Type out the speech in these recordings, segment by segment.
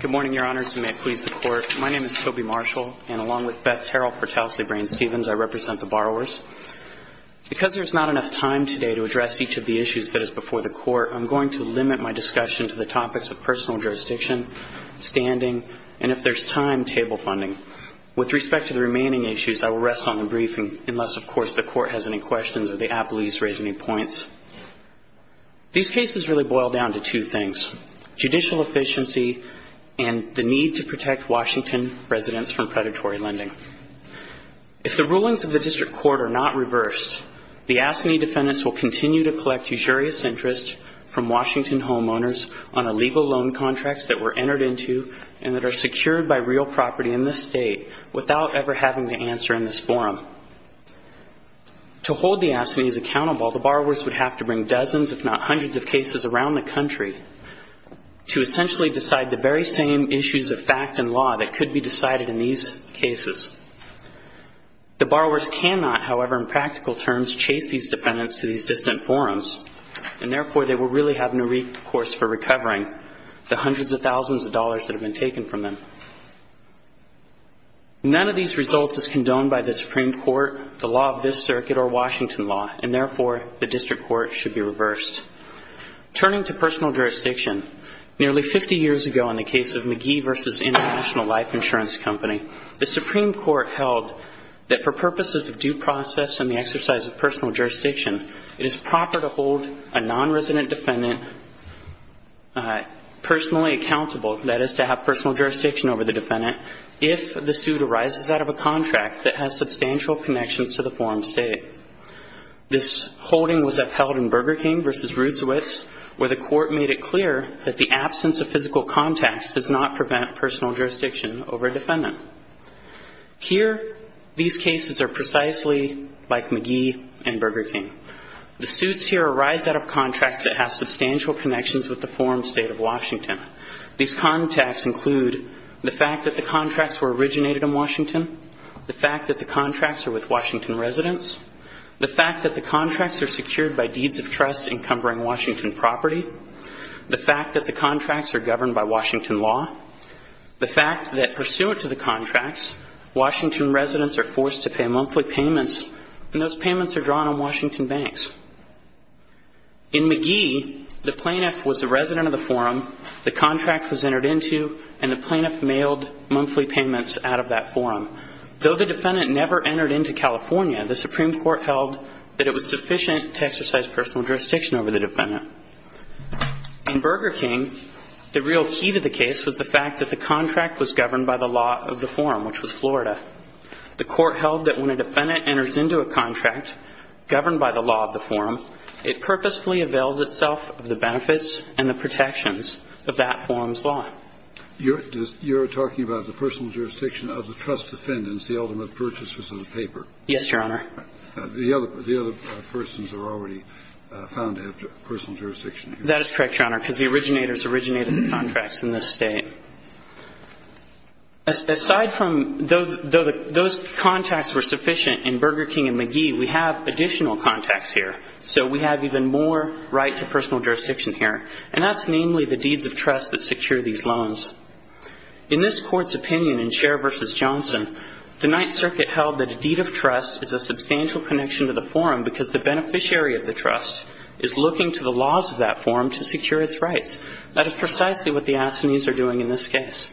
Good morning, Your Honors, and may it please the Court. My name is Toby Marshall, and along with Beth Terrell for Towsley Brain Stevens, I represent the borrowers. Because there is not enough time today to address each of the issues that is before the Court, I am going to limit my discussion to the topics of personal jurisdiction, standing, and if there is time, table funding. With respect to the remaining issues, I will rest on the briefing, unless, of course, the Court has any questions or the appellees raise any points. These cases really boil down to two things. First, judicial efficiency and the need to protect Washington residents from predatory lending. If the rulings of the District Court are not reversed, the AFSCME defendants will continue to collect usurious interest from Washington homeowners on illegal loan contracts that were entered into and that are secured by real property in this State without ever having to answer in this forum. To hold the AFSCMEs accountable, the borrowers would have to bring dozens if not hundreds of cases around the country to essentially decide the very same issues of fact and law that could be decided in these cases. The borrowers cannot, however, in practical terms, chase these defendants to these distant forums and, therefore, they will really have no recourse for recovering the hundreds of thousands of dollars that have been taken from them. None of these results is condoned by the Supreme Court, the law of this Circuit, or Washington law, and, therefore, the District Court should be reversed. Turning to personal jurisdiction, nearly 50 years ago in the case of McGee v. International Life Insurance Company, the Supreme Court held that for purposes of due process and the exercise of personal jurisdiction, it is proper to hold a nonresident defendant personally accountable, that is, to have personal jurisdiction over the defendant, if the suit arises out of a contract that has substantial connections to the forum state. This holding was upheld in Burger King v. Rudeswitz, where the Court made it clear that the absence of physical contacts does not prevent personal jurisdiction over a defendant. Here these cases are precisely like McGee and Burger King. The suits here arise out of contracts that have substantial connections with the forum state of Washington. These contacts include the fact that the contracts were originated in Washington, the fact that the contracts are with Washington residents, the fact that the contracts are secured by deeds of trust encumbering Washington property, the fact that the contracts are governed by Washington law, the fact that pursuant to the contracts, Washington residents are forced to pay monthly payments, and those payments are drawn on Washington banks. In McGee, the plaintiff was a resident of the forum, the contract was entered into, and the plaintiff mailed monthly payments out of that forum. Though the defendant never entered into California, the Supreme Court held that it was sufficient to exercise personal jurisdiction over the defendant. In Burger King, the real key to the case was the fact that the contract was governed by the law of the forum, which was Florida. The Court held that when a defendant enters into a contract governed by the law of the forum, it purposefully avails itself of the benefits and the protections of that forum's law. You're talking about the personal jurisdiction of the trust defendants, the ultimate purchasers of the paper. Yes, Your Honor. The other persons are already found to have personal jurisdiction. That is correct, Your Honor, because the originators originated the contracts in this State. Aside from though those contacts were sufficient in Burger King and McGee, we have additional contacts here. So we have even more right to personal jurisdiction here, and that's namely the deeds of trust that secure these loans. In this Court's opinion in Scherr v. Johnson, the Ninth Circuit held that a deed of trust is a substantial connection to the forum because the beneficiary of the trust is looking to the laws of that forum to secure its rights. That is precisely what the Assanese are doing in this case.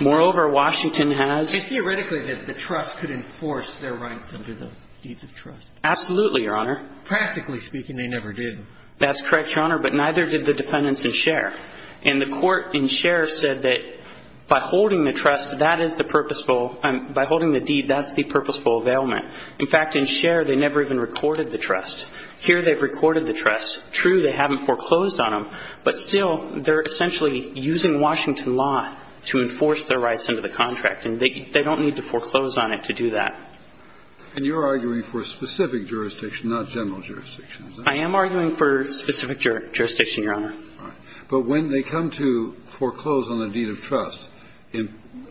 Moreover, Washington has the right to personal jurisdiction over the trust defendants. And the court in Scherr said that, by holding the trust, that is the purposeful – by holding the deed, that's the purposeful availment. In fact, in Scherr, they never even recorded the trust. Here, they've recorded the trust. True, they haven't foreclosed on them, but still, they're essentially using Washington law to enforce their rights under the contract, and they don't need to foreclose for specific jurisdiction, not general jurisdiction. I am arguing for specific jurisdiction, Your Honor. But when they come to foreclose on a deed of trust,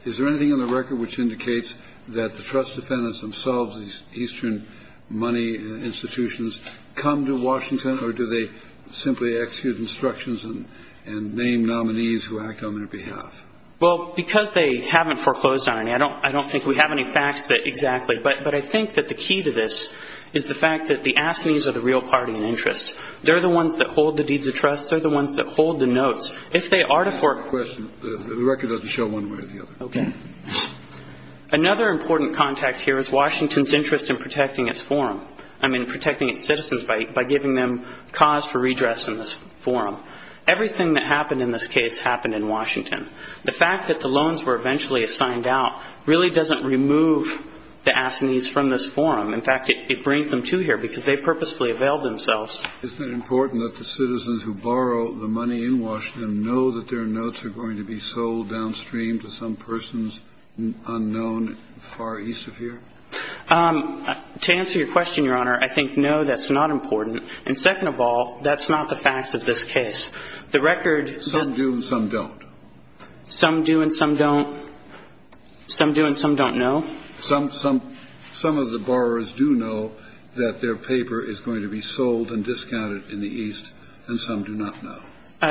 is there anything in the record which indicates that the trust defendants themselves, these Eastern money institutions, come to Washington, or do they simply execute instructions and name nominees who act on their behalf? Well, because they haven't foreclosed on any, I don't think we have any facts that But I think that the key to this is the fact that the assinees are the real party in interest. They're the ones that hold the deeds of trust. They're the ones that hold the notes. If they are to foreclose – I have a question. The record doesn't show one way or the other. Okay. Another important contact here is Washington's interest in protecting its forum – I mean, protecting its citizens by giving them cause for redress in this forum. Everything that happened in this case happened in Washington. The fact that the loans were eventually signed out really doesn't remove the assinees from this forum. In fact, it brings them to here because they purposefully availed themselves. Isn't it important that the citizens who borrow the money in Washington know that their notes are going to be sold downstream to some person's unknown far east of here? To answer your question, Your Honor, I think, no, that's not important. And second of all, that's not the facts of this case. The record – Some do and some don't. Some do and some don't – some do and some don't know? Some of the borrowers do know that their paper is going to be sold and discounted in the east, and some do not know.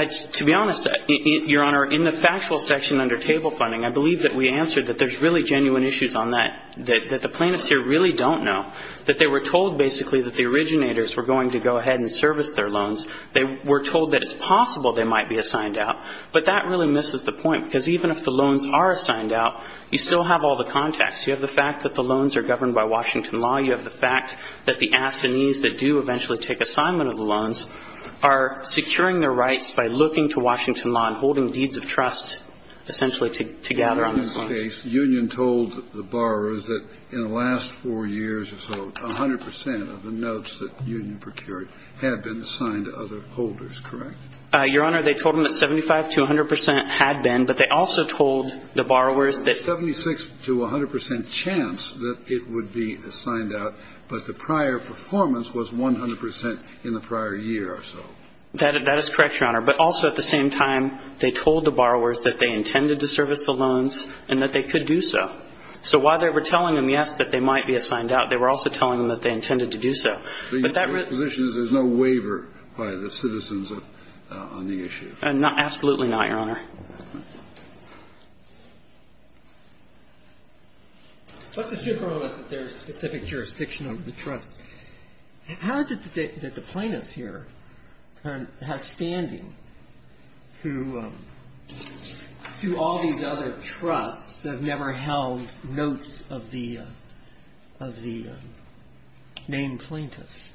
To be honest, Your Honor, in the factual section under table funding, I believe that we answered that there's really genuine issues on that, that the plaintiffs here really don't know, that they were told basically that the originators were going to go ahead and service their loans. They were told that it's possible they might be assigned out. But that really misses the point, because even if the loans are assigned out, you still have all the contacts. You have the fact that the loans are governed by Washington law. You have the fact that the assinees that do eventually take assignment of the loans are securing their rights by looking to Washington law and holding deeds of trust, essentially, to gather on those loans. The union told the borrowers that in the last four years or so, 100 percent of the other holders, correct? Your Honor, they told them that 75 to 100 percent had been, but they also told the borrowers that 76 to 100 percent chance that it would be assigned out, but the prior performance was 100 percent in the prior year or so. That is correct, Your Honor. But also at the same time, they told the borrowers that they intended to service the loans and that they could do so. So while they were telling them, yes, that they might be assigned out, they were also telling them that they intended to do so. But that really The position is there's no waiver by the citizens on the issue. Absolutely not, Your Honor. What's the difference with their specific jurisdiction of the trust? How is it that the plaintiff here has standing to all these other trusts that have never held notes of the named plaintiffs?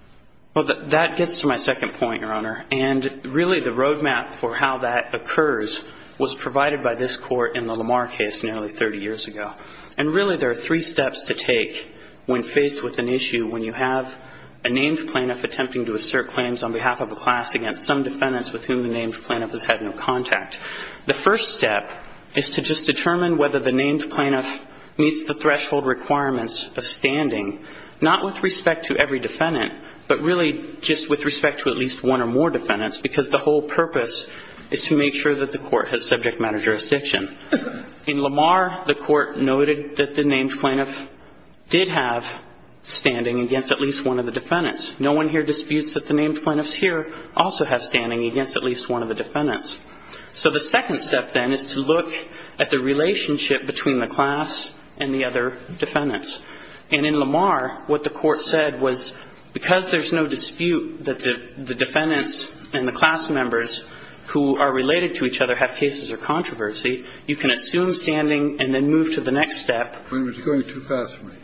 Well, that gets to my second point, Your Honor. And really the roadmap for how that occurs was provided by this Court in the Lamar case nearly 30 years ago. And really there are three steps to take when faced with an issue when you have a named plaintiff attempting to assert claims on behalf of a class against some defendants with whom the named plaintiff has had no contact. The first step is to just determine whether the named plaintiff meets the threshold requirements of standing, not with respect to every defendant, but really just with respect to at least one or more defendants, because the whole purpose is to make sure that the Court has subject matter jurisdiction. In Lamar, the Court noted that the named plaintiff did have standing against at least one of the defendants. No one here disputes that the named plaintiffs here also have standing against at least one of the defendants. So the second step, then, is to look at the relationship between the class and the other defendants. And in Lamar, what the Court said was because there's no dispute that the defendants and the class members who are related to each other have cases of controversy, you can assume standing and then move to the next step. Your Honor, you're going too fast for me.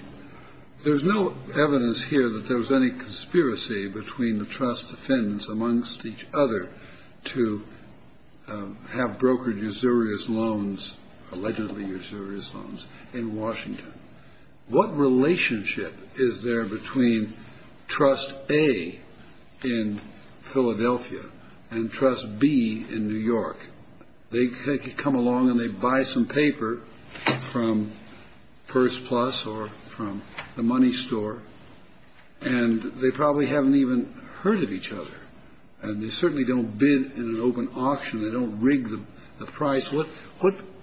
There's no evidence here that there was any conspiracy between the trust defendants and the class defendants amongst each other to have brokered usurious loans, allegedly usurious loans, in Washington. What relationship is there between trust A in Philadelphia and trust B in New York? They could come along and they buy some paper from First Plus or from the money store, and they probably haven't even heard of each other. And they certainly don't bid in an open auction. They don't rig the price. What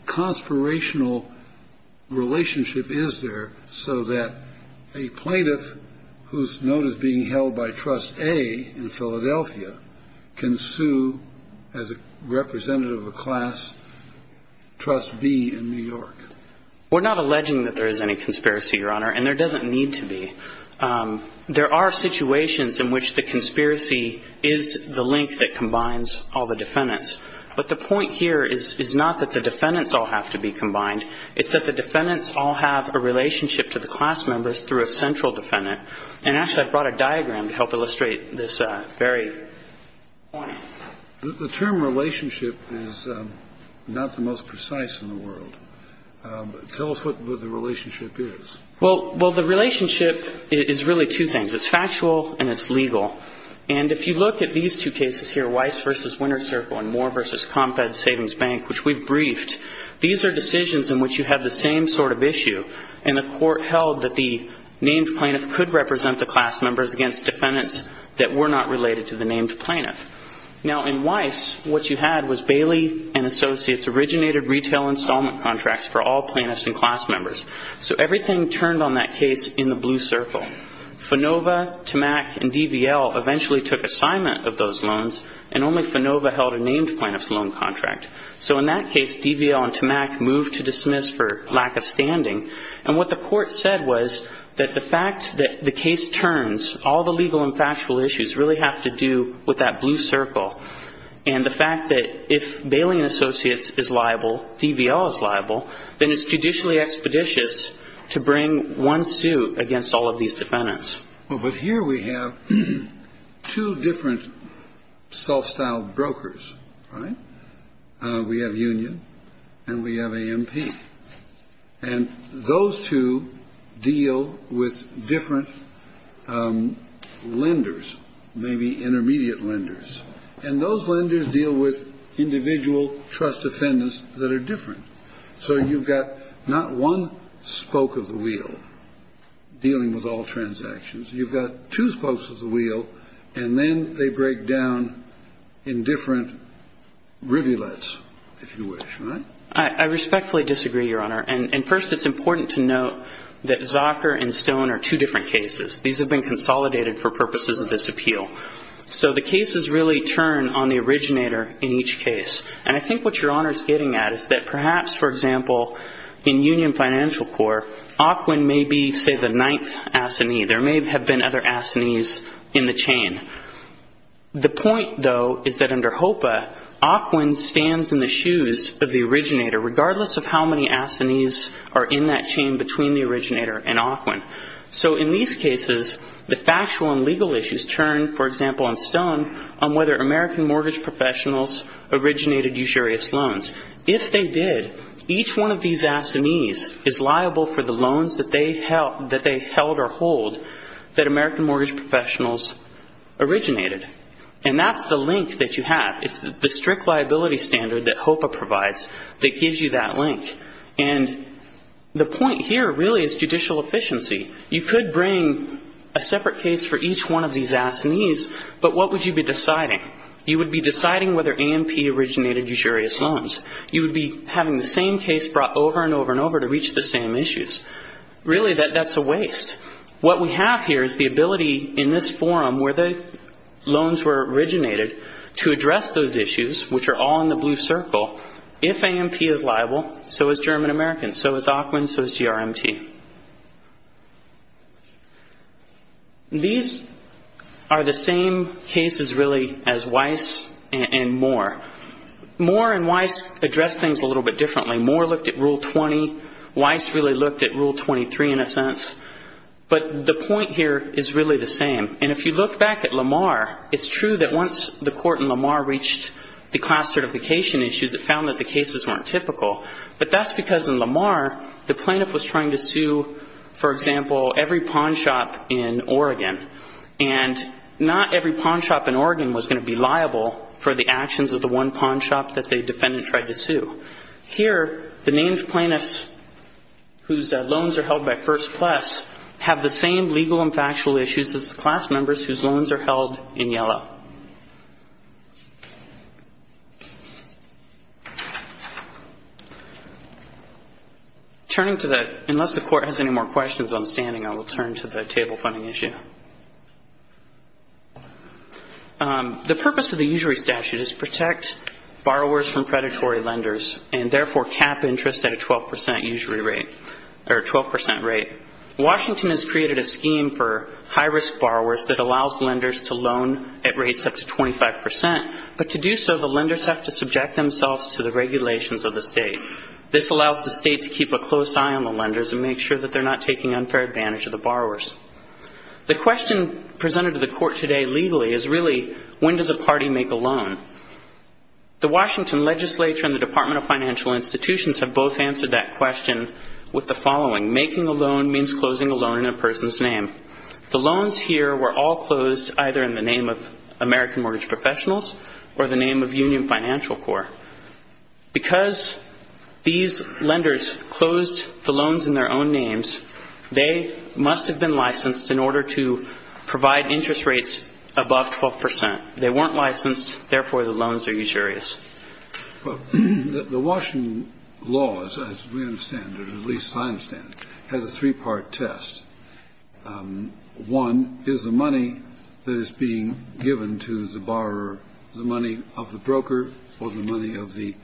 conspirational relationship is there so that a plaintiff who's noted being held by trust A in Philadelphia can sue as a representative of class trust B in New York? We're not alleging that there is any conspiracy, Your Honor, and there doesn't need to be. There are situations in which the conspiracy is the link that combines all the defendants. But the point here is not that the defendants all have to be combined. It's that the defendants all have a relationship to the class members through a central defendant. And actually, I brought a diagram to help illustrate this very point. The term relationship is not the most precise in the world. Tell us what the relationship is. Well, the relationship is really two things. It's factual and it's legal. And if you look at these two cases here, Weiss v. Winter Circle and Moore v. CompEd Savings Bank, which we've briefed, these are decisions in which you have the same sort of issue. And the court held that the named plaintiff could represent the class members against defendants that were not related to the named plaintiff. Now, in Weiss, what you had was Bailey and Associates originated retail installment contracts for all plaintiffs and class members. So everything turned on that case in the blue circle. Fanova, Tamack, and DVL eventually took assignment of those loans, and only Fanova held a named plaintiff's loan contract. So in that case, DVL and Tamack moved to dismiss for lack of standing. And what the court said was that the fact that the case turns, all the legal and factual issues really have to do with that blue circle. And the fact that if Bailey and Associates is liable, DVL is liable, then it's judicially expeditious to bring one suit against all of these defendants. Well, but here we have two different self-styled brokers, right? We have Union and we have AMP. And those two deal with different lenders, maybe intermediate lenders. And those lenders deal with individual trust defendants that are different. So you've got not one spoke of the wheel dealing with all transactions. You've got two spokes of the wheel, and then they break down in different rivulets, if you wish, right? I respectfully disagree, Your Honor. And first, it's important to note that Zocker and Stone are two different cases. These have been consolidated for purposes of this appeal. So the cases really turn on the originator in each case. And I think what Your Honor is getting at is that perhaps, for example, in Union Financial Corp, AQUIN may be, say, the ninth assignee. There may have been other assignees in the chain. The point, though, is that under HOPA, AQUIN stands in the shoes of the originator, regardless of how many assignees are in that chain between the originator and AQUIN. So in these cases, the factual and legal issues turn, for example, on Stone, on whether American mortgage professionals originated usurious loans. If they did, each one of these assignees is liable for the loans that they held or hold that American mortgage professionals originated. And that's the link that you have. It's the strict liability standard that HOPA provides that gives you that link. And the point here really is judicial efficiency. You could bring a separate case for each one of these assignees, but what would you be deciding? You would be deciding whether AMP originated usurious loans. You would be having the same case brought over and over and over to reach the same issues. Really, that's a waste. What we have here is the ability in this forum where the loans were originated to address those issues, which are all in the blue circle. If AMP is liable, so is German American, so is AQUIN, so is GRMT. These are the same cases, really, as Weiss and Moore. Moore and Weiss addressed things a little bit differently. Moore looked at Rule 20. Weiss really looked at Rule 23, in a sense. But the point here is really the same. And if you look back at Lamar, it's true that once the court in Lamar reached the class certification issues, it found that the cases weren't typical. For example, every pawn shop in Oregon. And not every pawn shop in Oregon was going to be liable for the actions of the one pawn shop that the defendant tried to sue. Here, the names of plaintiffs whose loans are held by first class have the same legal and factual issues as the class members whose loans are held in yellow. Turning to the – unless the court has any more questions on the standing, I will turn to the table funding issue. The purpose of the usury statute is to protect borrowers from predatory lenders and, therefore, cap interest at a 12% usury rate – or a 12% rate. Washington has created a scheme for high-risk borrowers that allows lenders to loan at reduced interest rates. But to do so, the lenders have to subject themselves to the regulations of the state. This allows the state to keep a close eye on the lenders and make sure that they're not taking unfair advantage of the borrowers. The question presented to the court today legally is really, when does a party make a loan? The Washington legislature and the Department of Financial Institutions have both answered that question with the following. Making a loan means closing a loan in a person's name. The loans here were all closed either in the name of American Mortgage Professionals or the name of Union Financial Corps. Because these lenders closed the loans in their own names, they must have been licensed in order to provide interest rates above 12%. They weren't licensed. Therefore, the loans are usurious. The Washington law, as we understand it, or at least I understand it, has a three-part test. One is the money that is being given to the borrower, the money of the broker or the money of the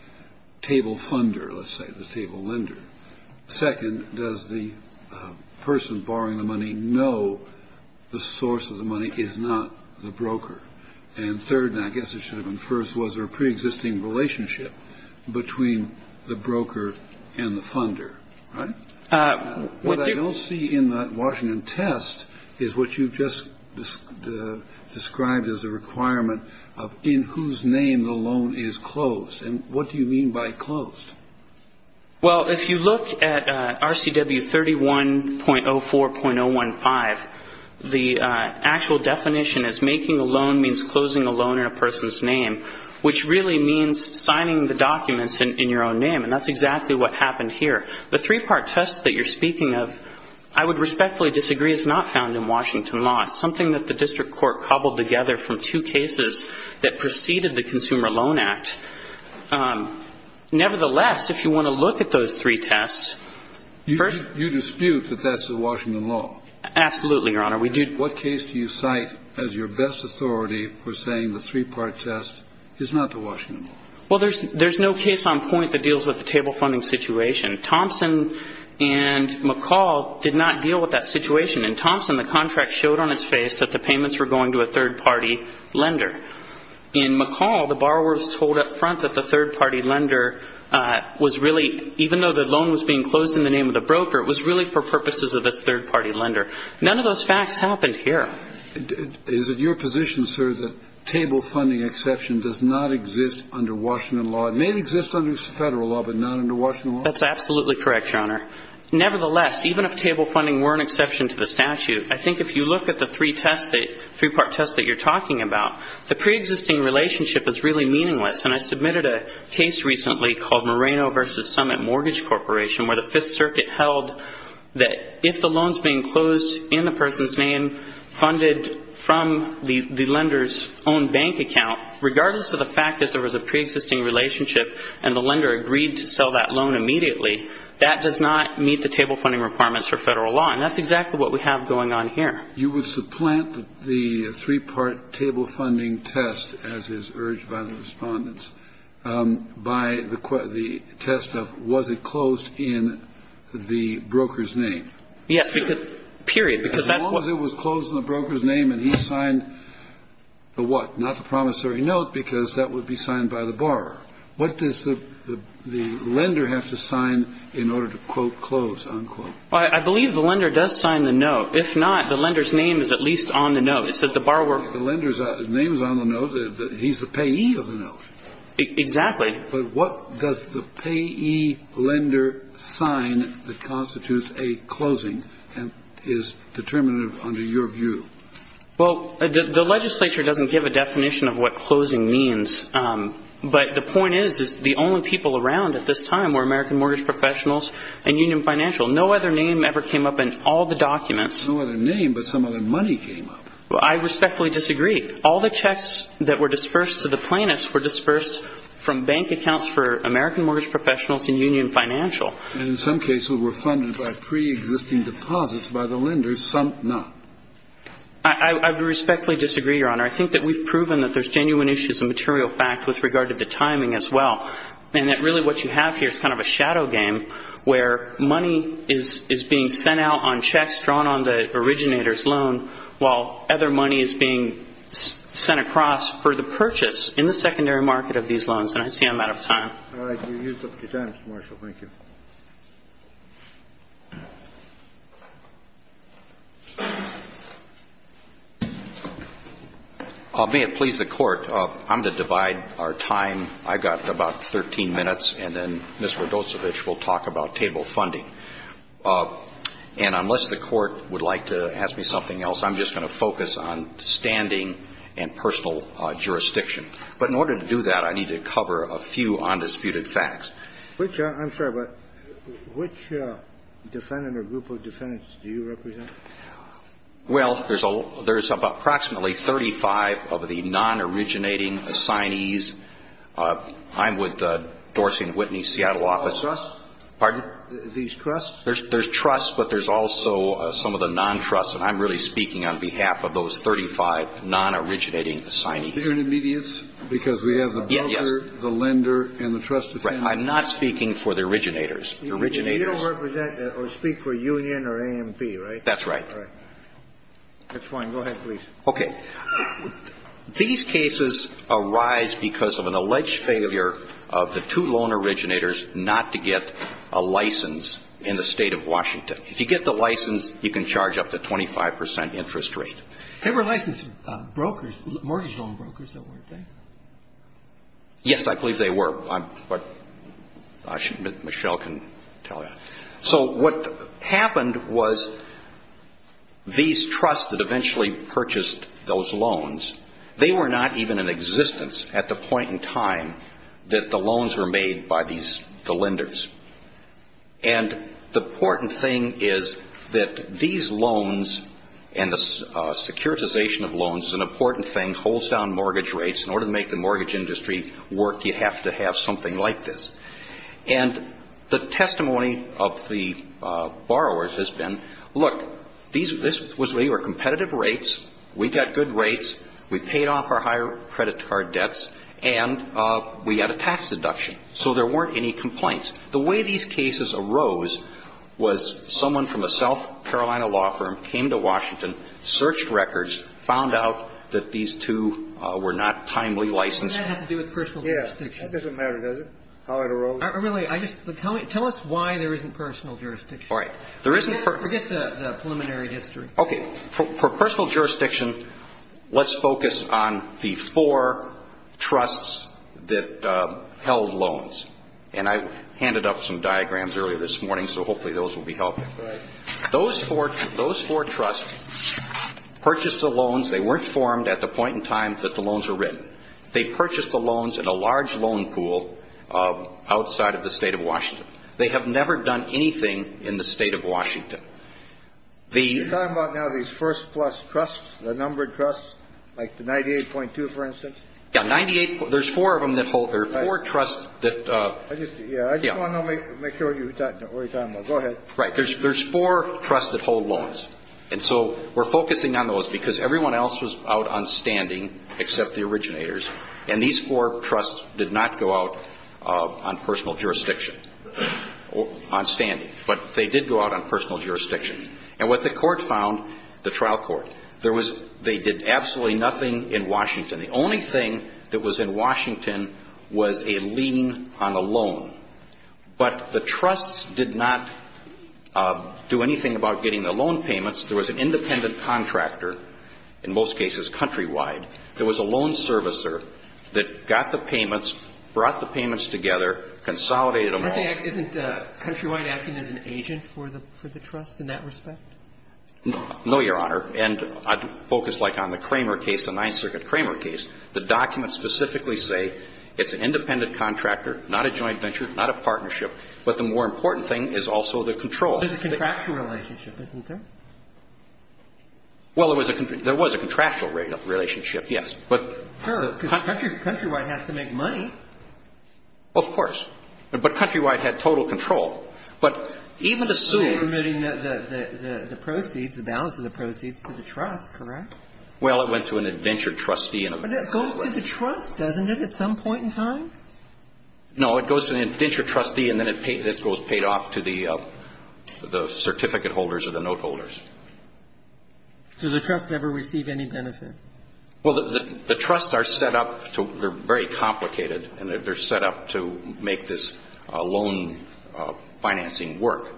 table funder, let's say, the table lender. Second, does the person borrowing the money know the source of the money is not the broker? And third, and I guess it should have been first, was there a preexisting relationship between the broker and the funder, right? What I don't see in the Washington test is what you just described as a requirement of in whose name the loan is closed. And what do you mean by closed? Well, if you look at RCW 31.04.015, the actual definition is making a loan means closing a loan in a person's name, which really means signing the documents in your own name. And that's exactly what happened here. The three-part test that you're speaking of, I would respectfully disagree, is not found in Washington law. It's something that the district court cobbled together from two cases that preceded the Consumer Loan Act. Nevertheless, if you want to look at those three tests, first- You dispute that that's the Washington law? Absolutely, Your Honor. We do- What case do you cite as your best authority for saying the three-part test is not the Washington law? Well, there's no case on point that deals with the table funding situation. Thompson and McCall did not deal with that situation. In Thompson, the contract showed on its face that the payments were going to a third-party lender. In McCall, the borrowers told up front that the third-party lender was really- even though the loan was being closed in the name of the broker, it was really for purposes of this third-party lender. None of those facts happened here. Is it your position, sir, that table funding exception does not exist under Washington law? It may exist under federal law, but not under Washington law? That's absolutely correct, Your Honor. Nevertheless, even if table funding were an exception to the statute, I think if you look at the three-part test that you're talking about, the preexisting relationship is really meaningless. And I submitted a case recently called Moreno v. Summit Mortgage Corporation, where the Fifth Circuit held that if the loan's being closed in the person's name, funded from the lender's own bank account, regardless of the fact that there was a preexisting relationship and the lender agreed to sell that loan immediately, that does not meet the table funding requirements for federal law. And that's exactly what we have going on here. You would supplant the three-part table funding test, as is urged by the Respondents, by the test of was it closed in the broker's name? Yes, period, because that's what- As long as it was closed in the broker's name and he signed the what? Not the promissory note, because that would be signed by the borrower. What does the lender have to sign in order to, quote, close, unquote? Well, I believe the lender does sign the note. If not, the lender's name is at least on the note. It says the borrower- The lender's name is on the note. He's the payee of the note. Exactly. But what does the payee lender sign that constitutes a closing and is determinative under your view? Well, the legislature doesn't give a definition of what closing means. But the point is, is the only people around at this time were American mortgage professionals and union financial. No other name ever came up in all the documents. No other name, but some other money came up. I respectfully disagree. All the checks that were dispersed to the plaintiffs were dispersed from bank accounts for American mortgage professionals and union financial. And in some cases were funded by preexisting deposits by the lenders, some not. I respectfully disagree, Your Honor. I think that we've proven that there's genuine issues of material fact with regard to the timing as well. And that really what you have here is kind of a shadow game where money is being sent out on checks drawn on the originator's loan while other money is being sent across for the purchase in the secondary market of these loans. And I see I'm out of time. All right. You're used up your time, Mr. Marshall. Thank you. May it please the Court, I'm going to divide our time. I've got about 13 minutes, and then Mr. Rodosevich will talk about table funding. And unless the Court would like to ask me something else, I'm just going to focus on standing and personal jurisdiction. But in order to do that, I need to cover a few undisputed facts. I'm sorry, but which defendant or group of defendants do you represent? Well, there's approximately 35 of the non-originating assignees. I'm with the Dorsey and Whitney Seattle office. These trusts? Pardon? These trusts? There's trusts, but there's also some of the non-trusts. And I'm really speaking on behalf of those 35 non-originating assignees. They're intermediates because we have the builder, the lender, and the trust defendant. Right. I'm not speaking for the originators. The originators. You don't represent or speak for Union or A&P, right? That's right. That's fine. Go ahead, please. Okay. These cases arise because of an alleged failure of the two loan originators not to get a license in the State of Washington. If you get the license, you can charge up to 25 percent interest rate. They were licensed brokers, mortgage loan brokers, weren't they? Yes, I believe they were. But I should admit Michelle can tell you. So what happened was these trusts that eventually purchased those loans, they were not even in existence at the point in time that the loans were made by the lenders. And the important thing is that these loans and the securitization of loans is an important thing, holds down mortgage rates. In order to make the mortgage industry work, you have to have something like this. And the testimony of the borrowers has been, look, these were competitive rates, we got good rates, we paid off our higher credit card debts, and we had a tax deduction. So there weren't any complaints. The way these cases arose was someone from a South Carolina law firm came to Washington, searched records, found out that these two were not timely licensed. Doesn't that have to do with personal jurisdiction? That doesn't matter, does it, how it arose? Really, tell us why there isn't personal jurisdiction. All right. Forget the preliminary history. Okay. For personal jurisdiction, let's focus on the four trusts that held loans. And I handed up some diagrams earlier this morning, so hopefully those will be helpful. Right. Those four trusts purchased the loans. They weren't formed at the point in time that the loans were written. They purchased the loans in a large loan pool outside of the State of Washington. They have never done anything in the State of Washington. You're talking about now these first-plus trusts, the numbered trusts, like the 98.2, for instance? Yeah, 98. There's four of them that hold or four trusts that ‑‑ I just want to make sure what you're talking about. Go ahead. Right. There's four trusts that hold loans. And so we're focusing on those because everyone else was out on standing except the originators, and these four trusts did not go out on personal jurisdiction, on standing. But they did go out on personal jurisdiction. And what the court found, the trial court, they did absolutely nothing in Washington. The only thing that was in Washington was a lien on a loan. But the trusts did not do anything about getting the loan payments. There was an independent contractor, in most cases countrywide. There was a loan servicer that got the payments, brought the payments together, consolidated them all. Isn't countrywide acting as an agent for the trust in that respect? No, Your Honor. And I'd focus like on the Kramer case, the Ninth Circuit Kramer case. The documents specifically say it's an independent contractor, not a joint venture, not a partnership. But the more important thing is also the control. There's a contractual relationship, isn't there? Well, there was a contractual relationship, yes. Sure, because countrywide has to make money. Of course. But countrywide had total control. But even the suit ‑‑ You're permitting the proceeds, the balance of the proceeds to the trust, correct? Well, it went to an adventure trustee. But that goes to the trust, doesn't it, at some point in time? No, it goes to an adventure trustee, and then it goes paid off to the certificate holders or the note holders. So the trust never received any benefit? Well, the trusts are set up to ‑‑ they're very complicated, and they're set up to make this loan financing work.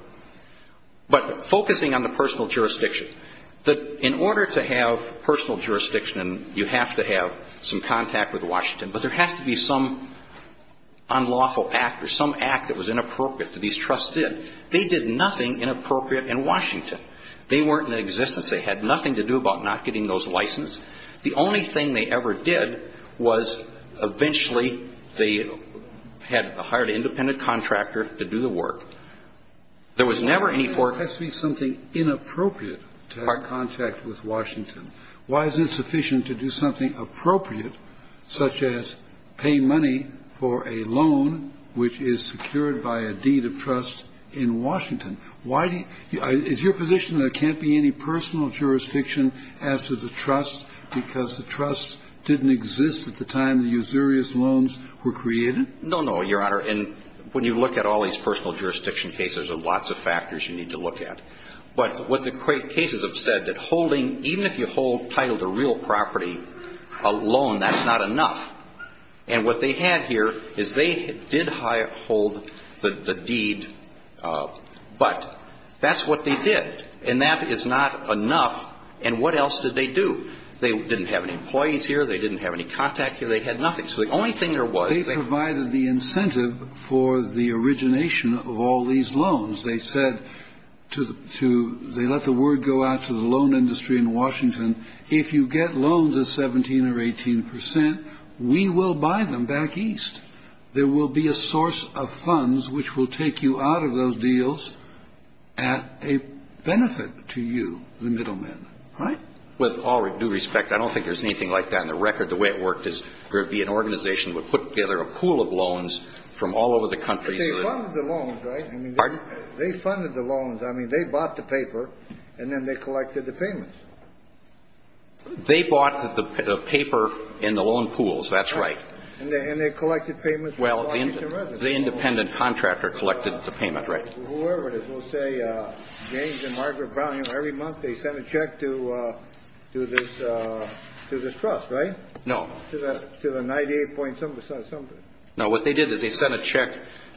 But focusing on the personal jurisdiction, in order to have personal jurisdiction, you have to have some contact with Washington. But there has to be some unlawful act or some act that was inappropriate that these trusts did. They did nothing inappropriate in Washington. They weren't in existence. They had nothing to do about not getting those licenses. The only thing they ever did was eventually they had to hire an independent contractor to do the work. There was never any for ‑‑ There has to be something inappropriate to have contact with Washington. Why is it sufficient to do something appropriate, such as pay money for a loan, which is secured by a deed of trust in Washington? Why do you ‑‑ is your position there can't be any personal jurisdiction as to the trust because the trust didn't exist at the time the usurious loans were created? No, no, Your Honor. And when you look at all these personal jurisdiction cases, there's lots of factors you need to look at. But what the cases have said, that holding, even if you hold title to real property, a loan, that's not enough. And what they had here is they did hold the deed, but that's what they did. And that is not enough. And what else did they do? They didn't have any employees here. They didn't have any contact here. They had nothing. So the only thing there was ‑‑ They provided the incentive for the origination of all these loans. They said to ‑‑ they let the word go out to the loan industry in Washington, if you get loans of 17 or 18 percent, we will buy them back east. There will be a source of funds which will take you out of those deals at a benefit to you, the middleman. Right? With all due respect, I don't think there's anything like that on the record. The way it worked is there would be an organization that would put together a pool of loans from all over the country. They funded the loans, right? Pardon? They funded the loans. I mean, they bought the paper, and then they collected the payments. They bought the paper and the loan pools. That's right. And they collected payments from Washington residents. Well, the independent contractor collected the payment, right. Whoever it is. James and Margaret Brown, every month they sent a check to this trust, right? No. To the 98 point something. No, what they did is they sent a check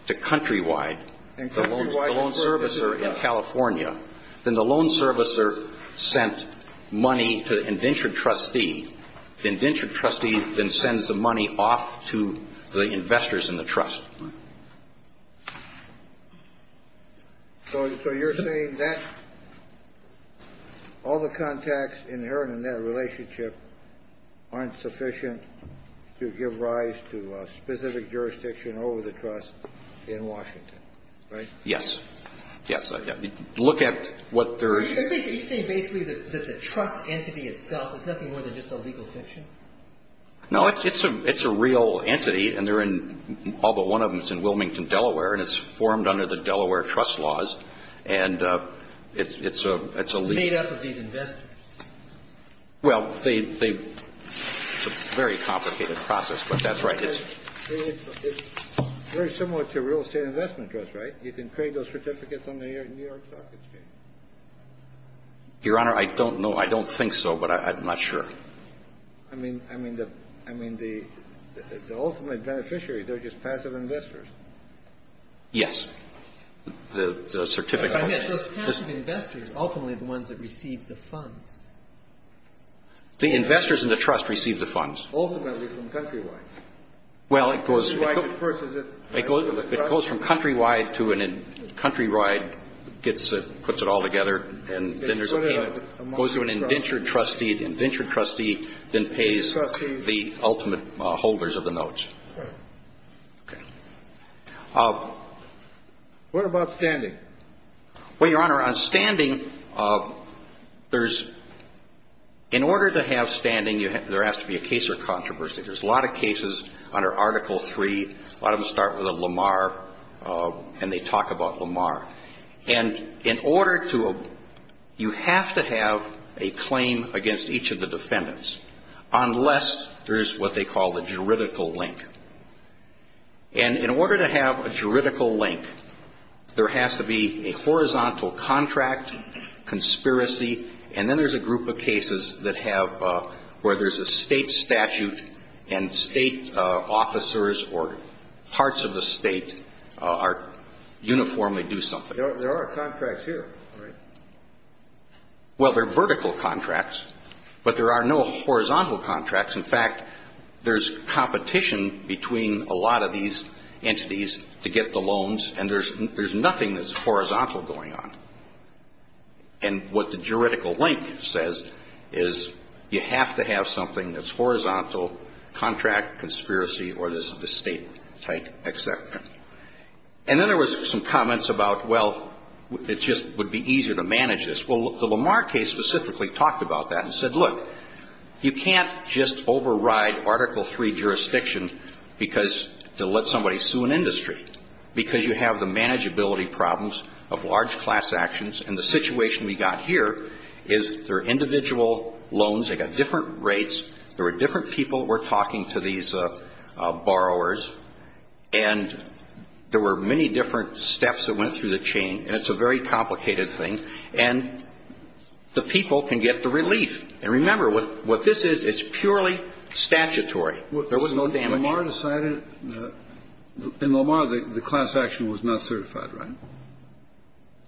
to Countrywide, the loan servicer in California. Then the loan servicer sent money to the indentured trustee. The indentured trustee then sends the money off to the investors in the trust. So you're saying that all the contacts inherent in that relationship aren't sufficient to give rise to a specific jurisdiction over the trust in Washington, right? Yes. Yes. Look at what they're. Are you saying basically that the trust entity itself is nothing more than just a legal fiction? No, it's a real entity. And they're in all but one of them is in Wilmington, Delaware. And it's formed under the Delaware trust laws. And it's a legal. It's made up of these investors. Well, it's a very complicated process. But that's right. It's very similar to a real estate investment trust, right? You can create those certificates on the New York Stock Exchange. Your Honor, I don't know. I don't think so. But I'm not sure. I mean, the ultimate beneficiary, they're just passive investors. Yes. The certificate. I meant those passive investors, ultimately the ones that receive the funds. The investors in the trust receive the funds. Ultimately from Countrywide. Well, it goes from Countrywide to a Countrywide gets it, puts it all together, and then there's a payment. Goes to an indentured trustee. The indentured trustee then pays the ultimate holders of the notes. Okay. What about standing? Well, Your Honor, on standing, there's, in order to have standing, there has to be a case or controversy. There's a lot of cases under Article III. A lot of them start with a Lamar. And they talk about Lamar. And in order to, you have to have a claim against each of the defendants unless there's what they call a juridical link. And in order to have a juridical link, there has to be a horizontal contract, conspiracy, and then there's a group of cases that have, where there's a state statute and state officers or parts of the state uniformly do something. There are contracts here, right? Well, they're vertical contracts, but there are no horizontal contracts. In fact, there's competition between a lot of these entities to get the loans, and there's nothing that's horizontal going on. And what the juridical link says is you have to have something that's horizontal, contract, conspiracy, or there's a state-type exception. And then there was some comments about, well, it just would be easier to manage this. Well, the Lamar case specifically talked about that and said, look, you can't just override Article III jurisdiction because to let somebody sue an industry because you have the manageability problems of large class actions. And the situation we got here is there are individual loans. They've got different rates. There are different people. We're talking to these borrowers. And there were many different steps that went through the chain, and it's a very complicated thing. And the people can get the relief. And remember, what this is, it's purely statutory. There was no damage. Kennedy. Lamar decided that the class action was not certified, right?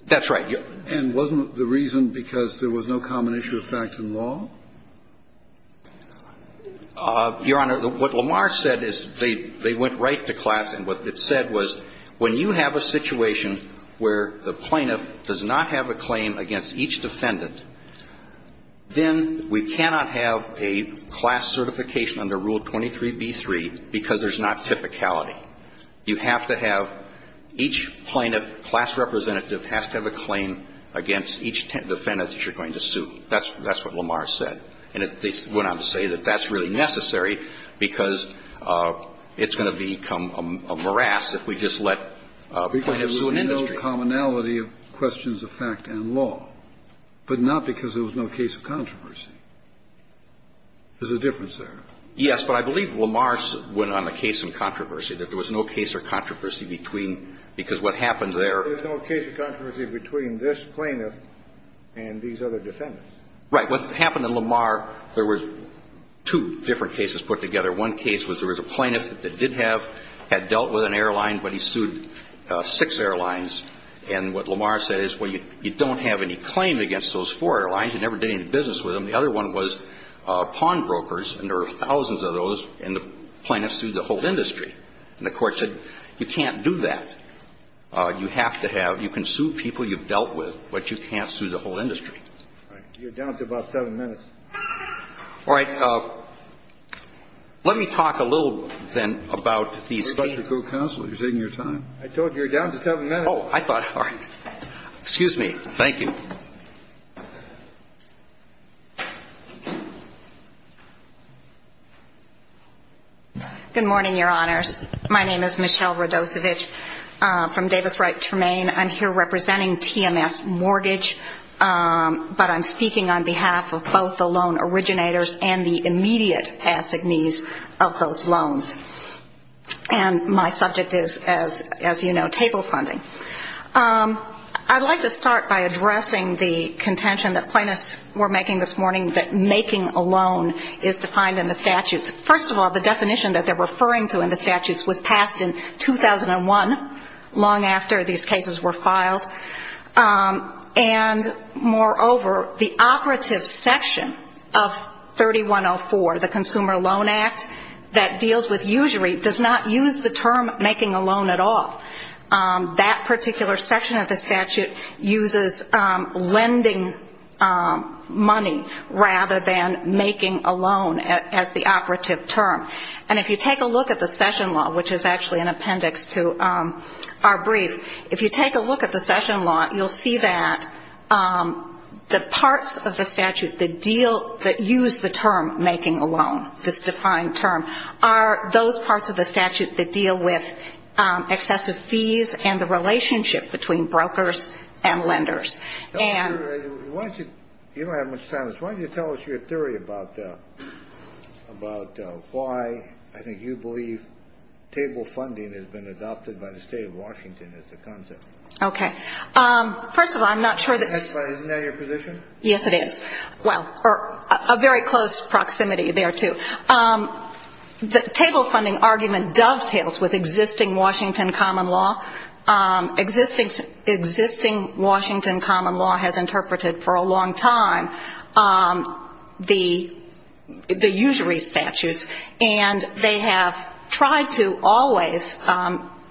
That's right. And wasn't the reason because there was no common issue of fact in law? Your Honor, what Lamar said is they went right to class, and what it said was when you have a situation where the plaintiff does not have a claim against each defendant, then we cannot have a class certification under Rule 23b-3 because there's not typicality. You have to have each plaintiff, class representative has to have a claim against each defendant that you're going to sue. That's what Lamar said. And they went on to say that that's really necessary because it's going to become a morass if we just let a plaintiff sue an industry. The commonality of questions of fact and law, but not because there was no case of controversy. There's a difference there. Yes, but I believe Lamar went on a case of controversy, that there was no case of controversy between, because what happened there. There was no case of controversy between this plaintiff and these other defendants. Right. What happened in Lamar, there were two different cases put together. One case was there was a plaintiff that did have, had dealt with an airline, but he sued six airlines. And what Lamar said is, well, you don't have any claim against those four airlines. You never did any business with them. The other one was pawnbrokers, and there were thousands of those, and the plaintiff sued the whole industry. And the Court said, you can't do that. You have to have, you can sue people you've dealt with, but you can't sue the whole industry. All right. You're down to about seven minutes. All right. Let me talk a little, then, about these cases. Mr. Co-Counselor, you're taking your time. I told you, you're down to seven minutes. Oh, I thought, all right. Excuse me. Thank you. Good morning, Your Honors. My name is Michelle Radosevich from Davis Wright Tremaine. I'm here representing TMS Mortgage, but I'm speaking on behalf of both the loan originators and the immediate assignees of those loans. And my subject is, as you know, table funding. I'd like to start by addressing the contention that plaintiffs were making this morning that making a loan is defined in the statutes. First of all, the definition that they're referring to in the statutes was passed in 2001, long after these cases were filed. And moreover, the operative section of 3104, the Consumer Loan Act, that deals with usury, does not use the term making a loan at all. That particular section of the statute uses lending money rather than making a loan as the operative term. And if you take a look at the session law, which is actually an appendix to our brief, if you take a look at the session law, you'll see that the parts of the statute that deal with excessive fees and the relationship between brokers and lenders. And why don't you tell us your theory about why I think you believe table funding has been adopted by the state of Washington as a concept. Okay. First of all, I'm not sure. Isn't that your position? Yes, it is. Well, a very close proximity there, too. The table funding argument dovetails with existing Washington common law. Existing Washington common law has interpreted for a long time the usury statutes, and they have tried to always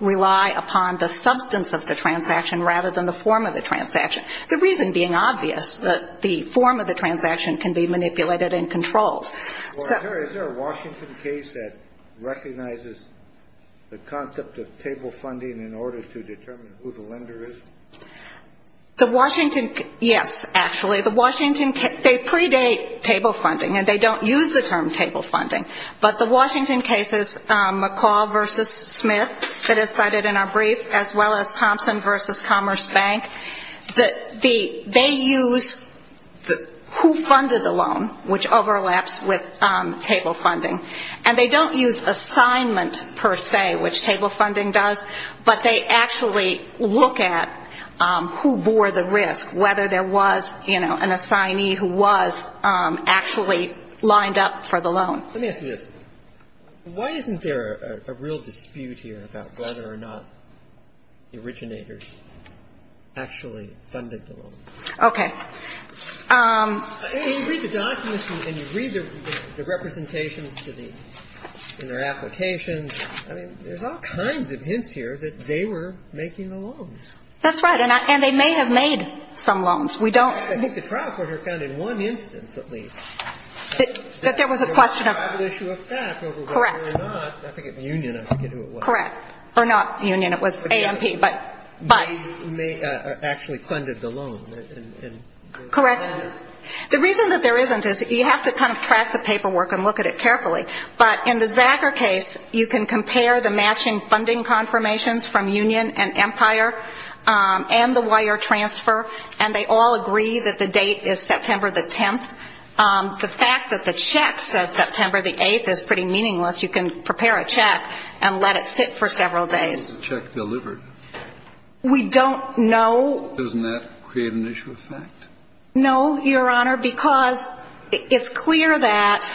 rely upon the substance of the transaction rather than the form of the transaction, the reason being obvious, that the form of the transaction can be manipulated and controlled. Well, is there a Washington case that recognizes the concept of table funding in order to determine who the lender is? The Washington, yes, actually. The Washington, they predate table funding, and they don't use the term table funding. But the Washington cases, McCall v. Smith, that is cited in our brief, as well as Thompson v. with table funding. And they don't use assignment per se, which table funding does, but they actually look at who bore the risk, whether there was, you know, an assignee who was actually lined up for the loan. Let me ask you this. Why isn't there a real dispute here about whether or not the originators actually funded the loan? Okay. I mean, you read the documents and you read the representations in their applications. I mean, there's all kinds of hints here that they were making the loans. That's right. And they may have made some loans. We don't know. I think the trial court found in one instance, at least, that there was a question of the issue of fact over whether or not. Correct. I forget the union, I forget who it was. Correct. Or not union. It was AMP, but. They actually funded the loan. Correct. The reason that there isn't is you have to kind of track the paperwork and look at it carefully. But in the Zachar case, you can compare the matching funding confirmations from union and Empire and the wire transfer, and they all agree that the date is September the 10th. The fact that the check says September the 8th is pretty meaningless. You can prepare a check and let it sit for several days. When is the check delivered? We don't know. Doesn't that create an issue of fact? No, Your Honor, because it's clear that,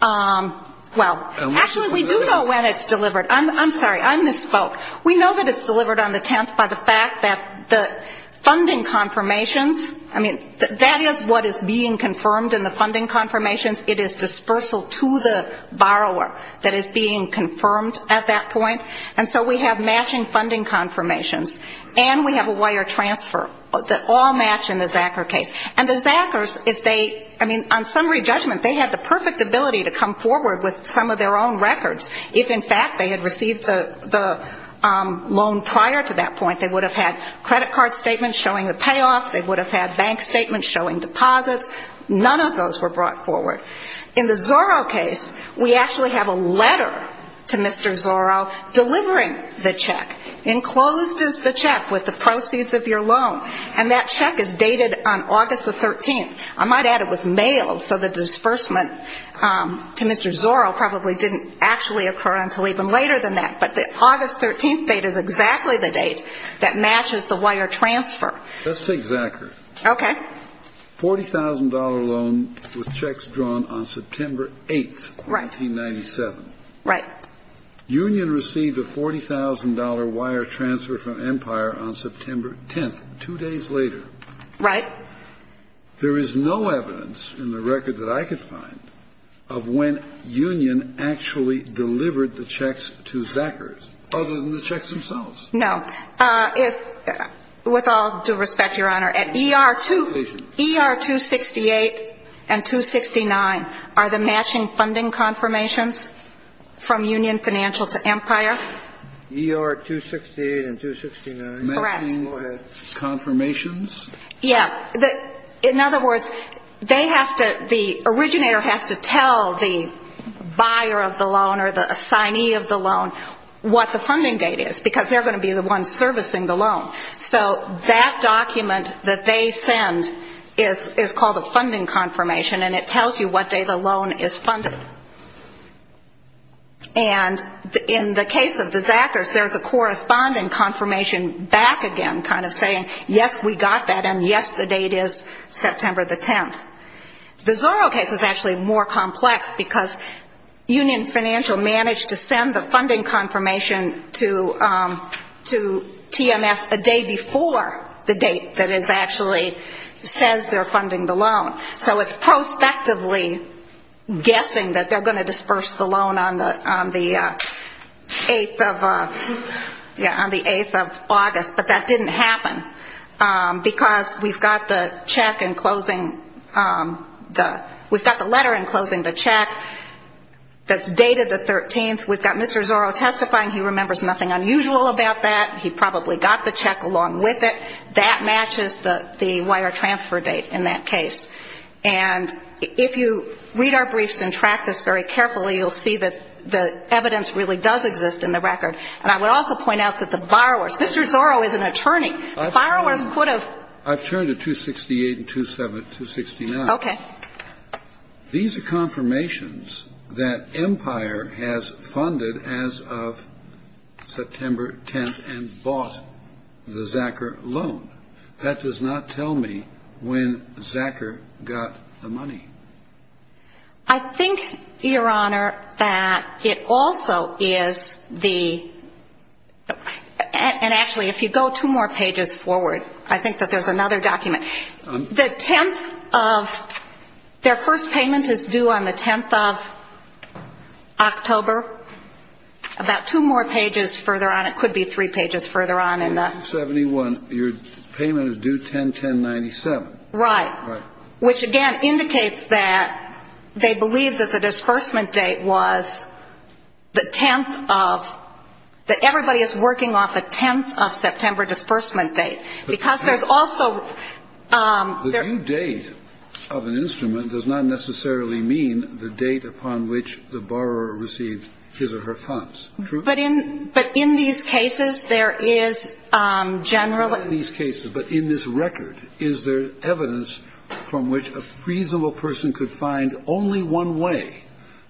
well, actually we do know when it's delivered. I'm sorry. I misspoke. We know that it's delivered on the 10th by the fact that the funding confirmations, I mean, that is what is being confirmed in the funding confirmations. It is dispersal to the borrower that is being confirmed at that point. And so we have matching funding confirmations, and we have a wire transfer that all match in the Zachar case. And the Zachars, if they, I mean, on summary judgment, they had the perfect ability to come forward with some of their own records. If, in fact, they had received the loan prior to that point, they would have had credit card statements showing the payoff. They would have had bank statements showing deposits. None of those were brought forward. In the Zorro case, we actually have a letter to Mr. Zorro delivering the check. Enclosed is the check with the proceeds of your loan. And that check is dated on August the 13th. I might add it was mailed, so the disbursement to Mr. Zorro probably didn't actually occur until even later than that. But the August 13th date is exactly the date that matches the wire transfer. Let's take Zachar. Okay. $40,000 loan with checks drawn on September 8th, 1997. Right. Union received a $40,000 wire transfer from Empire on September 10th, two days later. Right. There is no evidence in the record that I could find of when Union actually delivered the checks to Zachars, other than the checks themselves. No. With all due respect, Your Honor, at ER-268 and 269 are the matching funding confirmations from Union Financial to Empire? ER-268 and 269? Correct. Go ahead. Matching confirmations? Yeah. In other words, they have to – the originator has to tell the buyer of the loan or the assignee of the loan what the funding date is, because they're going to be the ones servicing the loan. So that document that they send is called a funding confirmation, and it tells you what day the loan is funded. And in the case of the Zachars, there's a corresponding confirmation back again kind of saying, yes, we got that, and yes, the date is September the 10th. The Zorro case is actually more complex, because Union Financial managed to send the funding confirmation to TMS a day before the date that it actually says they're funding the loan. So it's prospectively guessing that they're going to disperse the loan on the 8th of August, but that didn't happen, because we've got the letter enclosing the check that's dated the 13th. We've got Mr. Zorro testifying. He remembers nothing unusual about that. He probably got the check along with it. That matches the wire transfer date in that case. And if you read our briefs and track this very carefully, you'll see that the evidence really does exist in the record. And I would also point out that the borrowers, Mr. Zorro is an attorney. Borrowers could have. I've turned to 268 and 269. Okay. These are confirmations that Empire has funded as of September 10th and bought the Zachar loan. I think, Your Honor, that it also is the – and actually, if you go two more pages forward, I think that there's another document. The 10th of – their first payment is due on the 10th of October. About two more pages further on. It could be three pages further on in the – Your payment is due 10-10-97. Right. Which, again, indicates that they believe that the disbursement date was the 10th of – that everybody is working off a 10th of September disbursement date. Because there's also – The due date of an instrument does not necessarily mean the date upon which the borrower received his or her funds. True? But in these cases, there is generally – from which a reasonable person could find only one way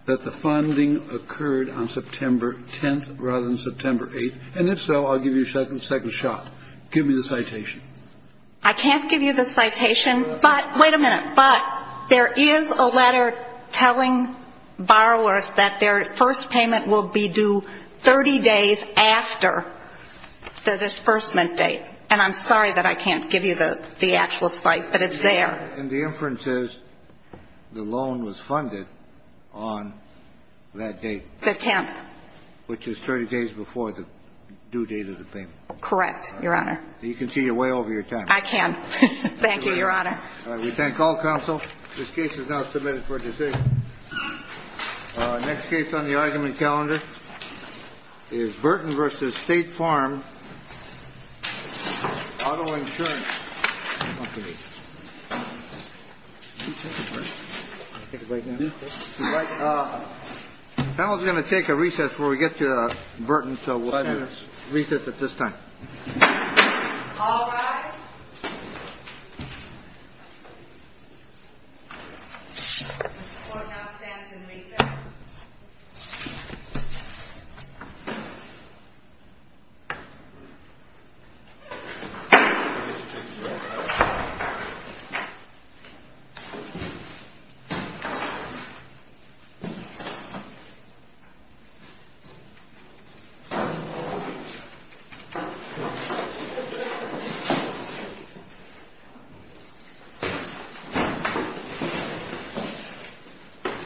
that the funding occurred on September 10th rather than September 8th. And if so, I'll give you a second shot. Give me the citation. I can't give you the citation. But – wait a minute. But there is a letter telling borrowers that their first payment will be due 30 days after the disbursement date. And I'm sorry that I can't give you the actual site, but it's there. And the inference is the loan was funded on that date. The 10th. Which is 30 days before the due date of the payment. Correct, Your Honor. You can see you're way over your time. I can. Thank you, Your Honor. All right. We thank all counsel. This case is now submitted for decision. Next case on the argument calendar is Burton versus State Farm Auto Insurance. I was going to take a recess before we get to Burton. So we'll have a recess at this time. Thank you.